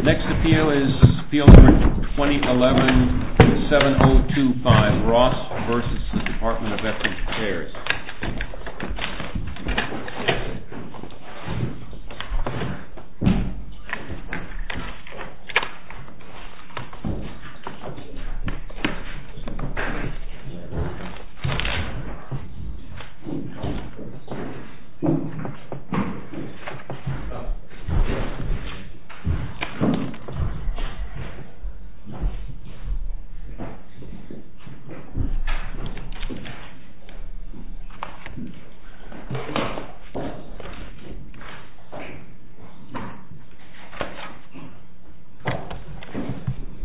2011-7025 Ross v. Department of Veterans Affairs Good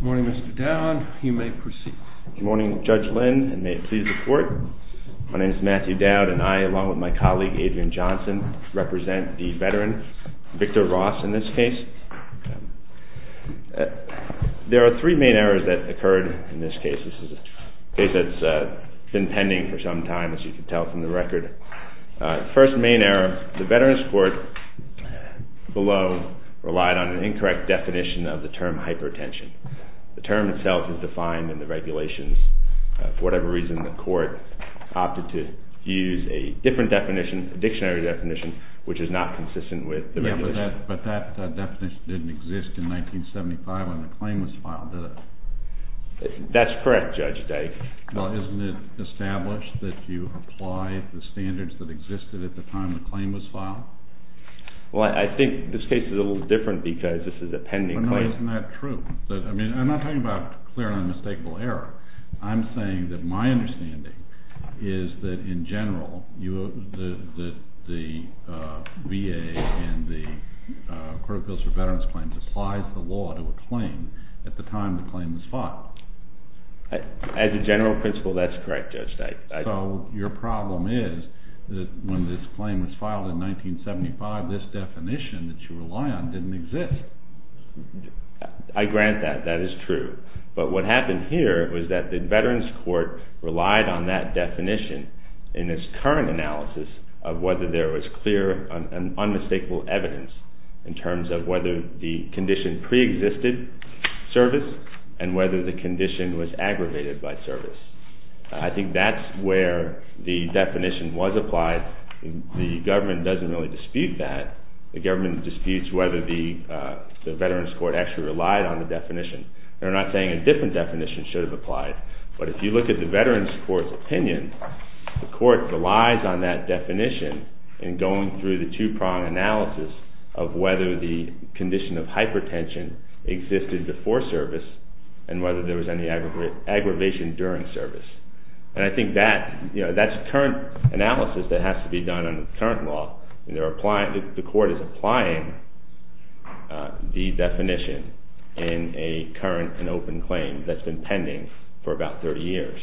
morning, Mr. Dowd. You may proceed. Good morning, Judge Lynn, and may it please the Court. My name is Matthew Dowd, and I, along with my colleague Adrian Johnson, represent the veteran, Victor Ross, in this case. There are three main errors that occurred in this case. This is a case that's been pending for some time, as you can tell from the record. First main error, the Veterans Court below relied on an incorrect definition of the term hypertension. The term itself is defined in the regulations. For whatever reason, the Court opted to use a different definition, a dictionary definition, which is not consistent with the regulations. Yeah, but that definition didn't exist in 1975 when the claim was filed, did it? That's correct, Judge Dyke. Well, isn't it established that you apply the standards that existed at the time the claim was filed? Well, I think this case is a little different because this is a pending claim. Well, no, isn't that true? I mean, I'm not talking about clear and unmistakable error. I'm saying that my understanding is that, in general, the VA and the Court of Appeals for Veterans Claims applies the law to a claim at the time the claim was filed. As a general principle, that's correct, Judge Dyke. So your problem is that when this claim was filed in 1975, this definition that you rely on didn't exist. I grant that. That is true. But what happened here was that the Veterans Court relied on that definition in its current analysis of whether there was clear and unmistakable evidence in terms of whether the condition preexisted service and whether the condition was aggravated by service. I think that's where the definition was applied. The government doesn't really dispute that. The government disputes whether the Veterans Court actually relied on the definition. They're not saying a different definition should have applied. But if you look at the Veterans Court's opinion, the Court relies on that definition in going through the two-prong analysis of whether the condition of hypertension existed before service and whether there was any aggravation during service. And I think that's current analysis that has to be done under current law. The Court is applying the definition in a current and open claim that's been pending for about 30 years.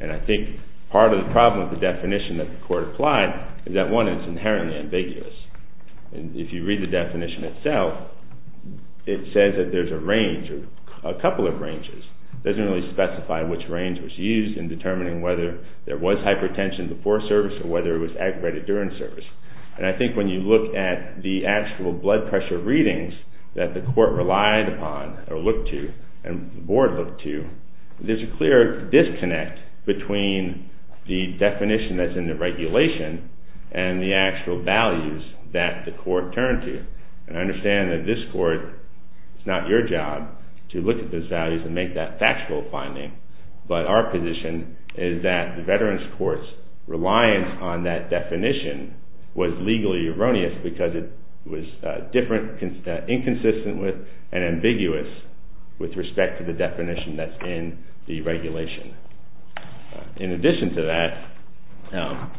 And I think part of the problem with the definition that the Court applied is that one is inherently ambiguous. And if you read the definition itself, it says that there's a range or a couple of ranges. It doesn't really specify which range was used in determining whether there was hypertension before service or whether it was aggravated during service. And I think when you look at the actual blood pressure readings that the Court relied upon or looked to and the Board looked to, there's a clear disconnect between the definition that's in the regulation and the actual values that the Court turned to. And I understand that this Court, it's not your job to look at those values and make that factual finding. But our position is that the Veterans Court's reliance on that definition was legally erroneous because it was different, inconsistent with, and ambiguous with respect to the definition that's in the regulation. In addition to that,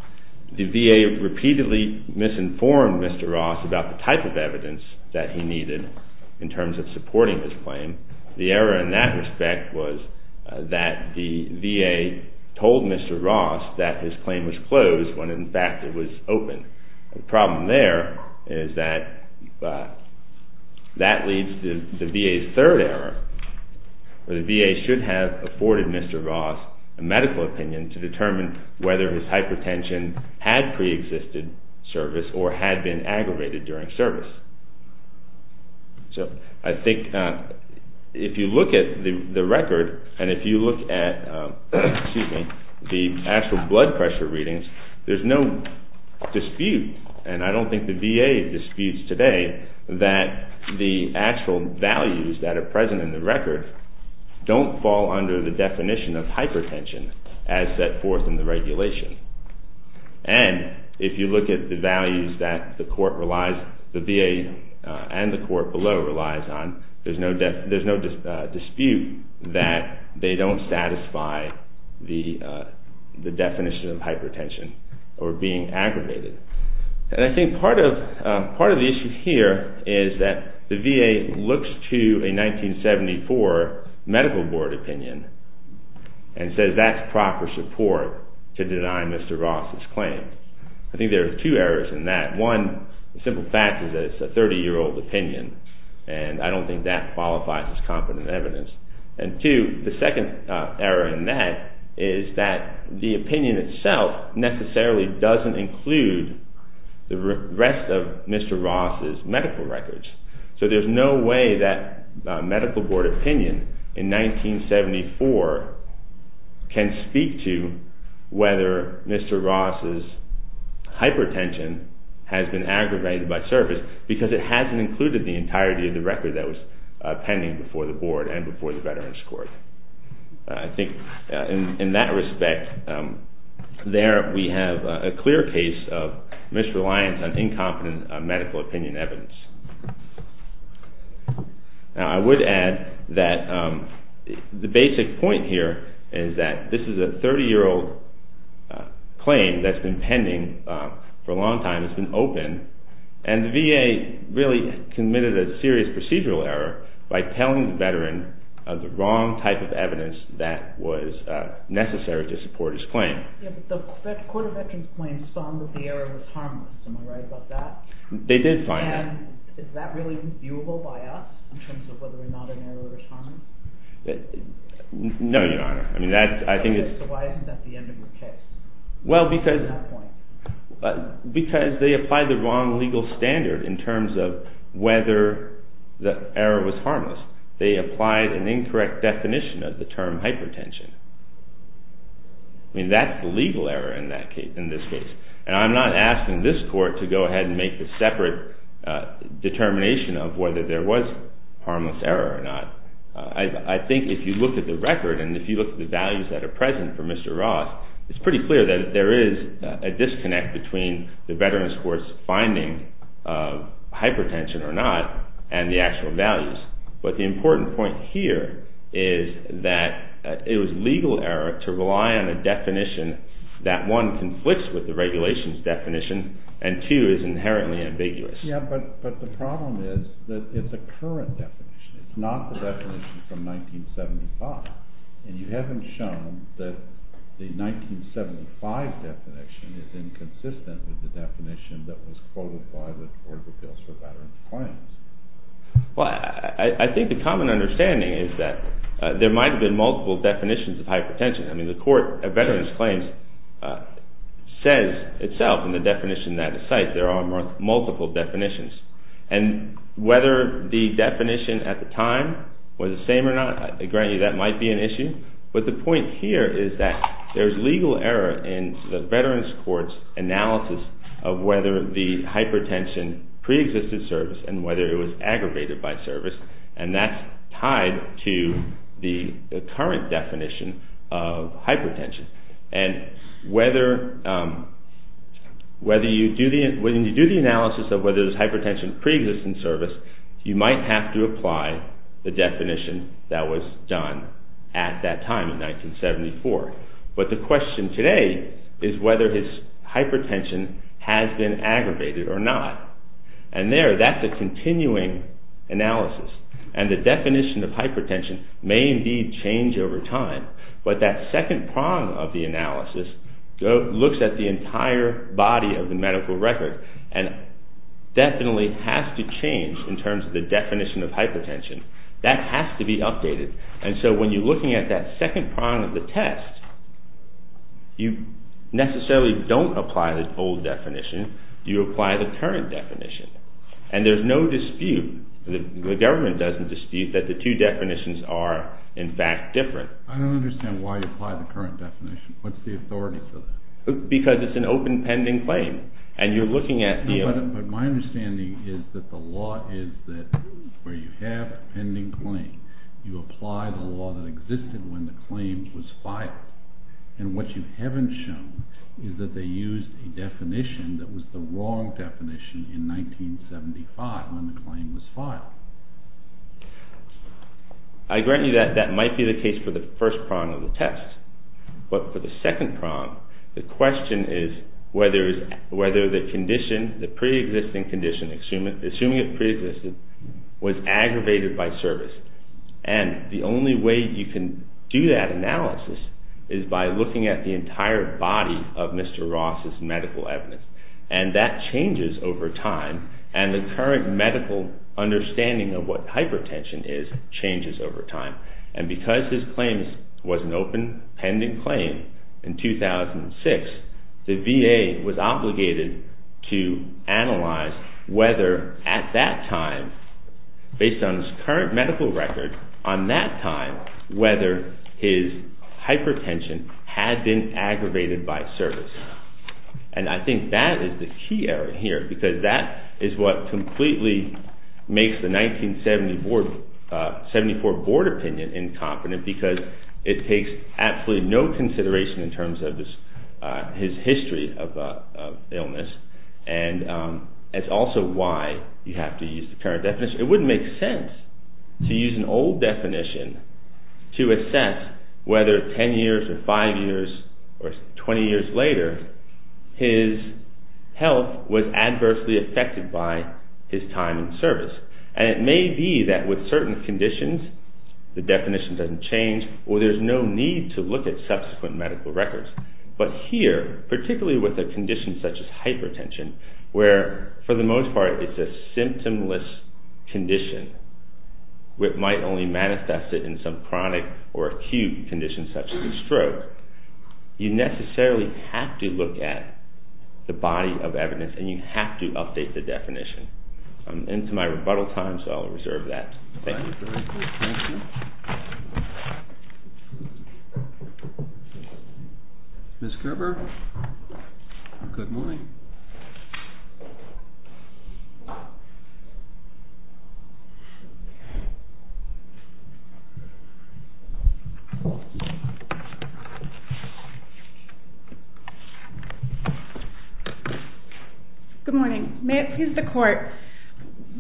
the VA repeatedly misinformed Mr. Ross about the type of evidence that he needed in terms of supporting his claim. The error in that respect was that the VA told Mr. Ross that his claim was closed when in fact it was open. The problem there is that that leads to the VA's third error. The VA should have afforded Mr. Ross a medical opinion to determine whether his hypertension had preexisted service or had been aggravated during service. So I think if you look at the record and if you look at the actual blood pressure readings, there's no dispute, and I don't think the VA disputes today, that the actual values that are present in the record don't fall under the definition of hypertension as set forth in the regulation. And if you look at the values that the VA and the court below relies on, there's no dispute that they don't satisfy the definition of hypertension or being aggravated. And I think part of the issue here is that the VA looks to a 1974 medical board opinion and says that's proper support to deny Mr. Ross' claim. I think there are two errors in that. One, the simple fact is that it's a 30-year-old opinion, and I don't think that qualifies as competent evidence. And two, the second error in that is that the opinion itself necessarily doesn't include the rest of Mr. Ross' medical records. So there's no way that medical board opinion in 1974 can speak to whether Mr. Ross' hypertension has been aggravated by service because it hasn't included the entirety of the record that was pending before the board and before the Veterans Court. I think in that respect, there we have a clear case of misreliance on incompetent medical opinion evidence. Now I would add that the basic point here is that this is a 30-year-old claim that's been pending for a long time, it's been open, and the VA really committed a serious procedural error by telling the Veteran of the wrong type of evidence that was necessary to support his claim. The Court of Veterans Claims found that the error was harmless, am I right about that? They did find that. And is that really viewable by us in terms of whether or not an error was harmless? No, Your Honor. So why isn't that the end of the case at that point? Because they applied the wrong legal standard in terms of whether the error was harmless. They applied an incorrect definition of the term hypertension. I mean, that's the legal error in this case. And I'm not asking this Court to go ahead and make a separate determination of whether there was harmless error or not. I think if you look at the record and if you look at the values that are present for Mr. Ross, it's pretty clear that there is a disconnect between the Veterans Court's finding of hypertension or not and the actual values. But the important point here is that it was legal error to rely on a definition that, one, conflicts with the regulations definition and, two, is inherently ambiguous. Yeah, but the problem is that it's a current definition. It's not the definition from 1975. And you haven't shown that the 1975 definition is inconsistent with the definition that was quoted by the Court of Appeals for Veteran Claims. Well, I think the common understanding is that there might have been multiple definitions of hypertension. I mean, the Court of Veterans Claims says itself in the definition that is cited there are multiple definitions. And whether the definition at the time was the same or not, I grant you that might be an issue. But the point here is that there's legal error in the Veterans Court's analysis of whether the hypertension preexisted service and whether it was aggravated by service. And that's tied to the current definition of hypertension. And when you do the analysis of whether there's hypertension preexisting service, you might have to apply the definition that was done at that time in 1974. But the question today is whether his hypertension has been aggravated or not. And there, that's a continuing analysis. And the definition of hypertension may indeed change over time. But that second prong of the analysis looks at the entire body of the medical record and definitely has to change in terms of the definition of hypertension. That has to be updated. And so when you're looking at that second prong of the test, you necessarily don't apply the old definition. You apply the current definition. And there's no dispute, the government doesn't dispute, that the two definitions are in fact different. I don't understand why you apply the current definition. What's the authority for that? Because it's an open pending claim. And you're looking at the- No, but my understanding is that the law is that where you have a pending claim, you apply the law that existed when the claim was filed. And what you haven't shown is that they used a definition that was the wrong definition in 1975 when the claim was filed. I grant you that that might be the case for the first prong of the test. But for the second prong, the question is whether the condition, the pre-existing condition, assuming it pre-existed, was aggravated by service. And the only way you can do that analysis is by looking at the entire body of Mr. Ross's medical evidence. And that changes over time. And the current medical understanding of what hypertension is changes over time. And because his claim was an open pending claim in 2006, the VA was obligated to analyze whether at that time, based on his current medical record, on that time, whether his hypertension had been aggravated by service. And I think that is the key error here. Because that is what completely makes the 1974 board opinion incompetent. Because it takes absolutely no consideration in terms of his history of illness. And it's also why you have to use the current definition. Because it wouldn't make sense to use an old definition to assess whether 10 years or 5 years or 20 years later, his health was adversely affected by his time in service. And it may be that with certain conditions, the definition doesn't change, or there's no need to look at subsequent medical records. But here, particularly with a condition such as hypertension, where for the most part it's a symptomless condition, where it might only manifest in some chronic or acute condition such as a stroke, you necessarily have to look at the body of evidence and you have to update the definition. I'm into my rebuttal time, so I'll reserve that. Thank you. Thank you. Ms. Kerber, good morning. Good morning. May it please the Court.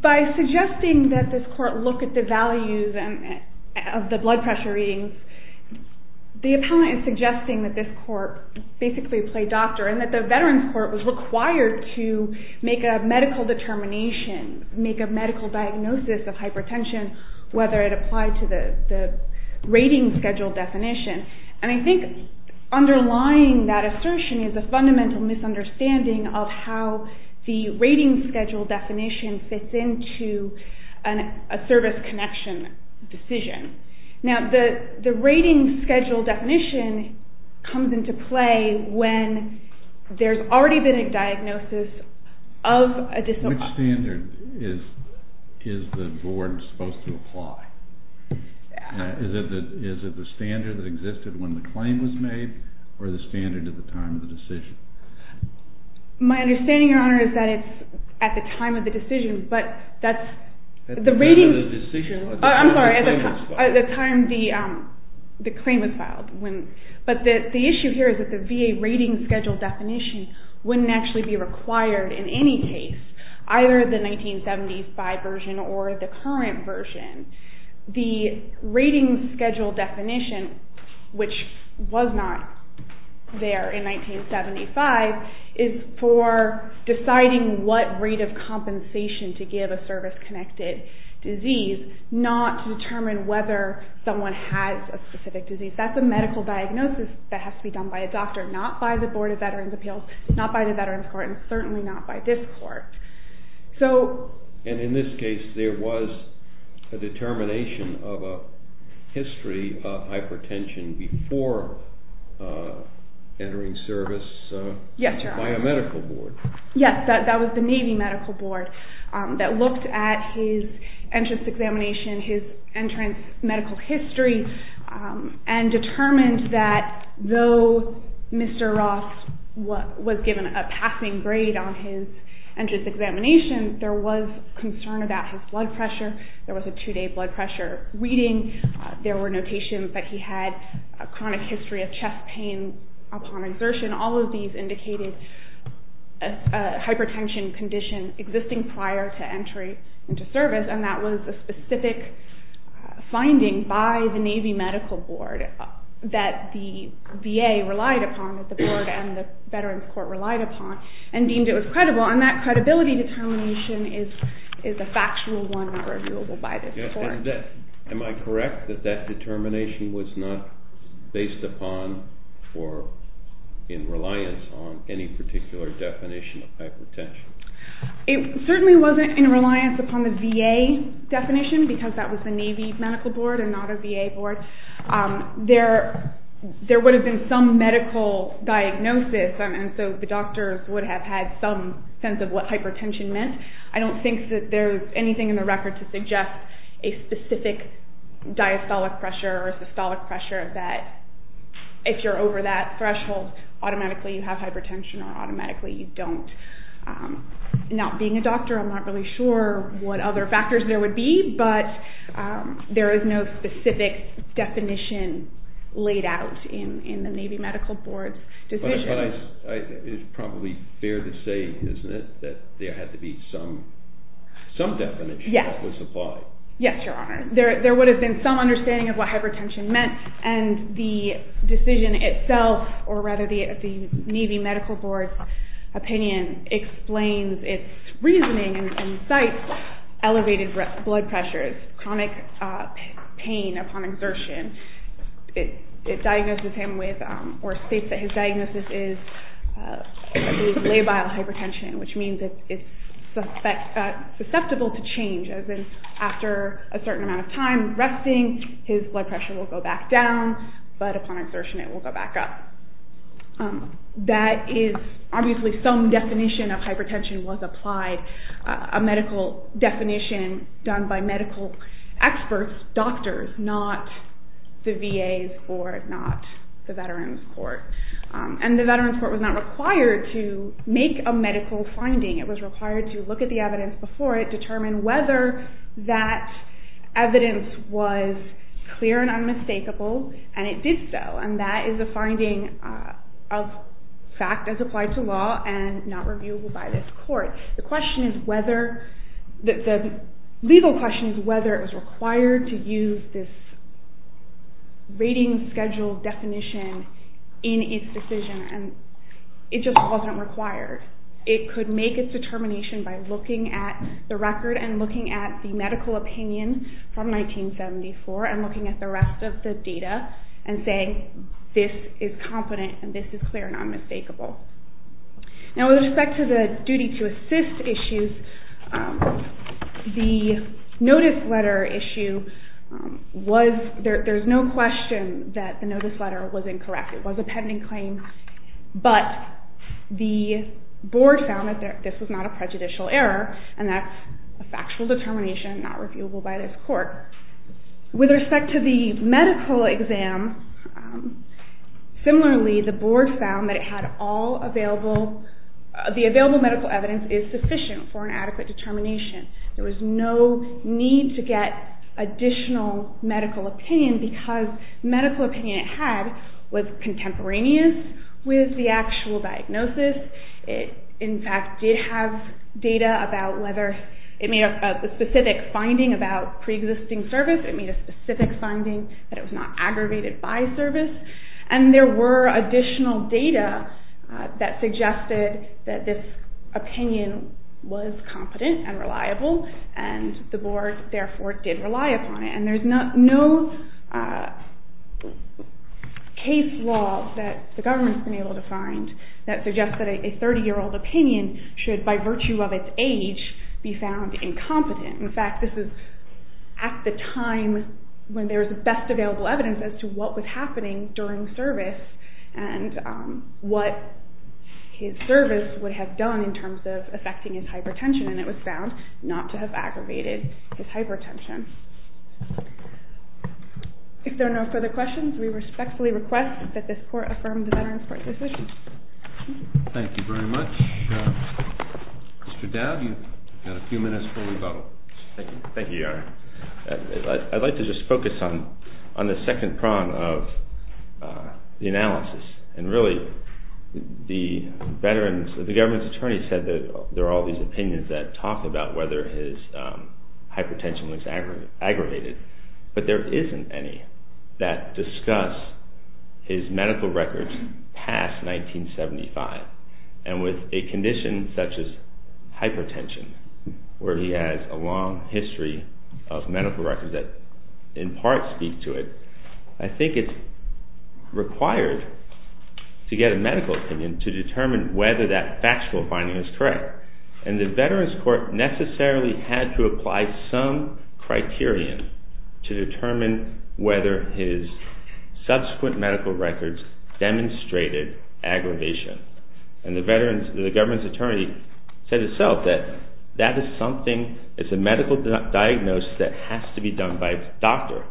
By suggesting that this Court look at the values of the blood pressure readings, the appellant is suggesting that this Court basically play doctor and that the Veterans Court was required to make a medical determination, make a medical diagnosis of hypertension, whether it applied to the rating schedule definition. And I think underlying that assertion is a fundamental misunderstanding of how the rating schedule definition fits into a service connection decision. Now, the rating schedule definition comes into play when there's already been a diagnosis of a disorder. Which standard is the Board supposed to apply? Is it the standard that existed when the claim was made or the standard at the time of the decision? My understanding, Your Honor, is that it's at the time of the decision, but that's the rating. At the time of the decision? I'm sorry, at the time the claim was filed. But the issue here is that the VA rating schedule definition wouldn't actually be required in any case, either the 1975 version or the current version. The rating schedule definition, which was not there in 1975, is for deciding what rate of compensation to give a service-connected disease, not to determine whether someone has a specific disease. That's a medical diagnosis that has to be done by a doctor, not by the Board of Veterans Appeals, not by the Veterans Court, and certainly not by this Court. And in this case, there was a determination of a history of hypertension before entering service by a medical board? Yes, Your Honor. Yes, that was the Navy Medical Board that looked at his entrance examination, his entrance medical history, and determined that though Mr. Ross was given a passing grade on his entrance examination, there was concern about his blood pressure. There was a two-day blood pressure reading. There were notations that he had a chronic history of chest pain upon exertion. All of these indicated a hypertension condition existing prior to entry into service, and that was a specific finding by the Navy Medical Board that the VA relied upon, that the board and the Veterans Court relied upon, and deemed it was credible. And that credibility determination is a factual one not reviewable by this court. Yes, and is that, am I correct that that determination was not based upon or in reliance on any particular definition of hypertension? It certainly wasn't in reliance upon the VA definition, because that was the Navy Medical Board and not a VA board. There would have been some medical diagnosis, and so the doctors would have had some sense of what hypertension meant. I don't think that there is anything in the record to suggest a specific diastolic pressure or systolic pressure that if you're over that threshold, automatically you have hypertension or automatically you don't. Not being a doctor, I'm not really sure what other factors there would be, but there is no specific definition laid out in the Navy Medical Board's decision. But it's probably fair to say, isn't it, that there had to be some definition that was applied. Yes, Your Honor. There would have been some understanding of what hypertension meant, and the decision itself, or rather the Navy Medical Board's opinion, explains its reasoning and cites elevated blood pressures, chronic pain upon exertion. It diagnoses him with, or states that his diagnosis is labile hypertension, which means that it's susceptible to change, as in after a certain amount of time resting, his blood pressure will go back down, but upon exertion it will go back up. That is obviously some definition of hypertension was applied, a medical definition done by medical experts, doctors, not the VA's or not the Veterans Court. And the Veterans Court was not required to make a medical finding. It was required to look at the evidence before it, determine whether that evidence was clear and unmistakable, and it did so. And that is a finding of fact as applied to law and not reviewable by this court. The legal question is whether it was required to use this rating schedule definition in its decision, and it just wasn't required. It could make its determination by looking at the record and looking at the medical opinion from 1974 and looking at the rest of the data and saying, this is confident and this is clear and unmistakable. Now with respect to the duty to assist issues, the notice letter issue was, there's no question that the notice letter was incorrect. It was a pending claim. But the board found that this was not a prejudicial error, and that's a factual determination not reviewable by this court. With respect to the medical exam, similarly the board found that it had all available, the available medical evidence is sufficient for an adequate determination. There was no need to get additional medical opinion because the medical opinion it had was contemporaneous with the actual diagnosis. It in fact did have data about whether it made a specific finding about preexisting service. It made a specific finding that it was not aggravated by service. And there were additional data that suggested that this opinion was competent and reliable, and the board therefore did rely upon it. And there's no case law that the government has been able to find that suggests that a 30 year old opinion should, by virtue of its age, be found incompetent. In fact, this is at the time when there was the best available evidence as to what was happening during service and what his service would have done in terms of affecting his hypertension. And it was found not to have aggravated his hypertension. If there are no further questions, we respectfully request that this court affirm the Veterans Court decision. Thank you very much. Mr. Dowd, you've got a few minutes before we vote. Thank you, Yara. I'd like to just focus on the second prong of the analysis. And really, the government's attorney said that there are all these opinions that talk about whether his hypertension was aggravated, but there isn't any that discuss his medical records past 1975. And with a condition such as hypertension, where he has a long history of medical records that in part speak to it, I think it's required to get a medical opinion to determine whether that factual finding is correct. And the Veterans Court necessarily had to apply some criterion to determine whether his subsequent medical records demonstrated aggravation. And the government's attorney said itself that that is something, it's a medical diagnosis that has to be done by a doctor.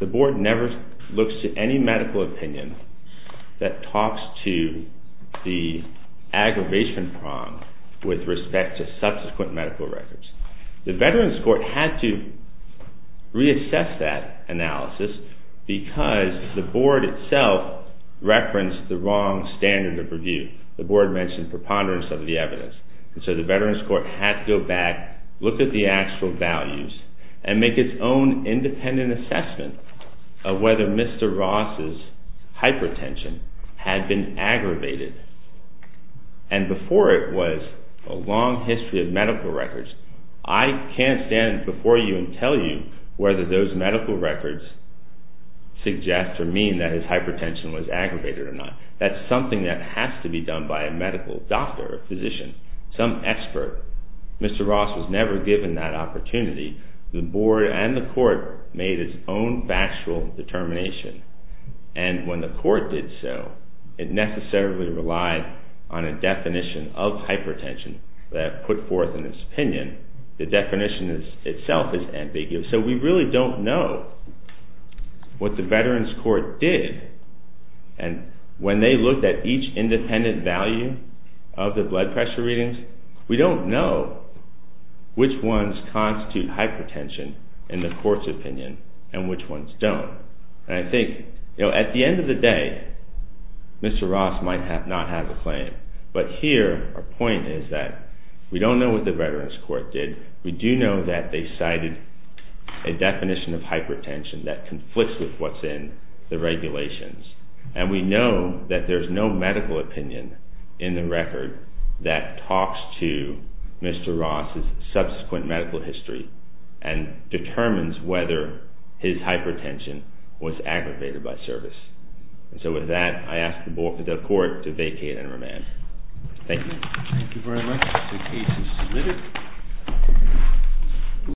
The board never looks to any medical opinion that talks to the aggravation prong with respect to subsequent medical records. The Veterans Court had to reassess that analysis because the board itself referenced the wrong standard of review. The board mentioned preponderance of the evidence. So the Veterans Court had to go back, look at the actual values, and make its own independent assessment of whether Mr. Ross' hypertension had been aggravated. And before it was a long history of medical records, I can't stand before you and tell you whether those medical records suggest or mean that his hypertension was aggravated or not. That's something that has to be done by a medical doctor or physician, some expert. Mr. Ross was never given that opportunity. The board and the court made its own factual determination. And when the court did so, it necessarily relied on a definition of hypertension that put forth in its opinion. The definition itself is ambiguous. So we really don't know what the Veterans Court did. And when they looked at each independent value of the blood pressure readings, we don't know which ones constitute hypertension in the court's opinion and which ones don't. And I think at the end of the day, Mr. Ross might not have a claim. But here, our point is that we don't know what the Veterans Court did. We do know that they cited a definition of hypertension that conflicts with what's in the regulations. And we know that there's no medical opinion in the record that talks to Mr. Ross's subsequent medical history and determines whether his hypertension was aggravated by service. So with that, I ask the board and the court to vacate and remand. Thank you. Thank you very much. The case is submitted.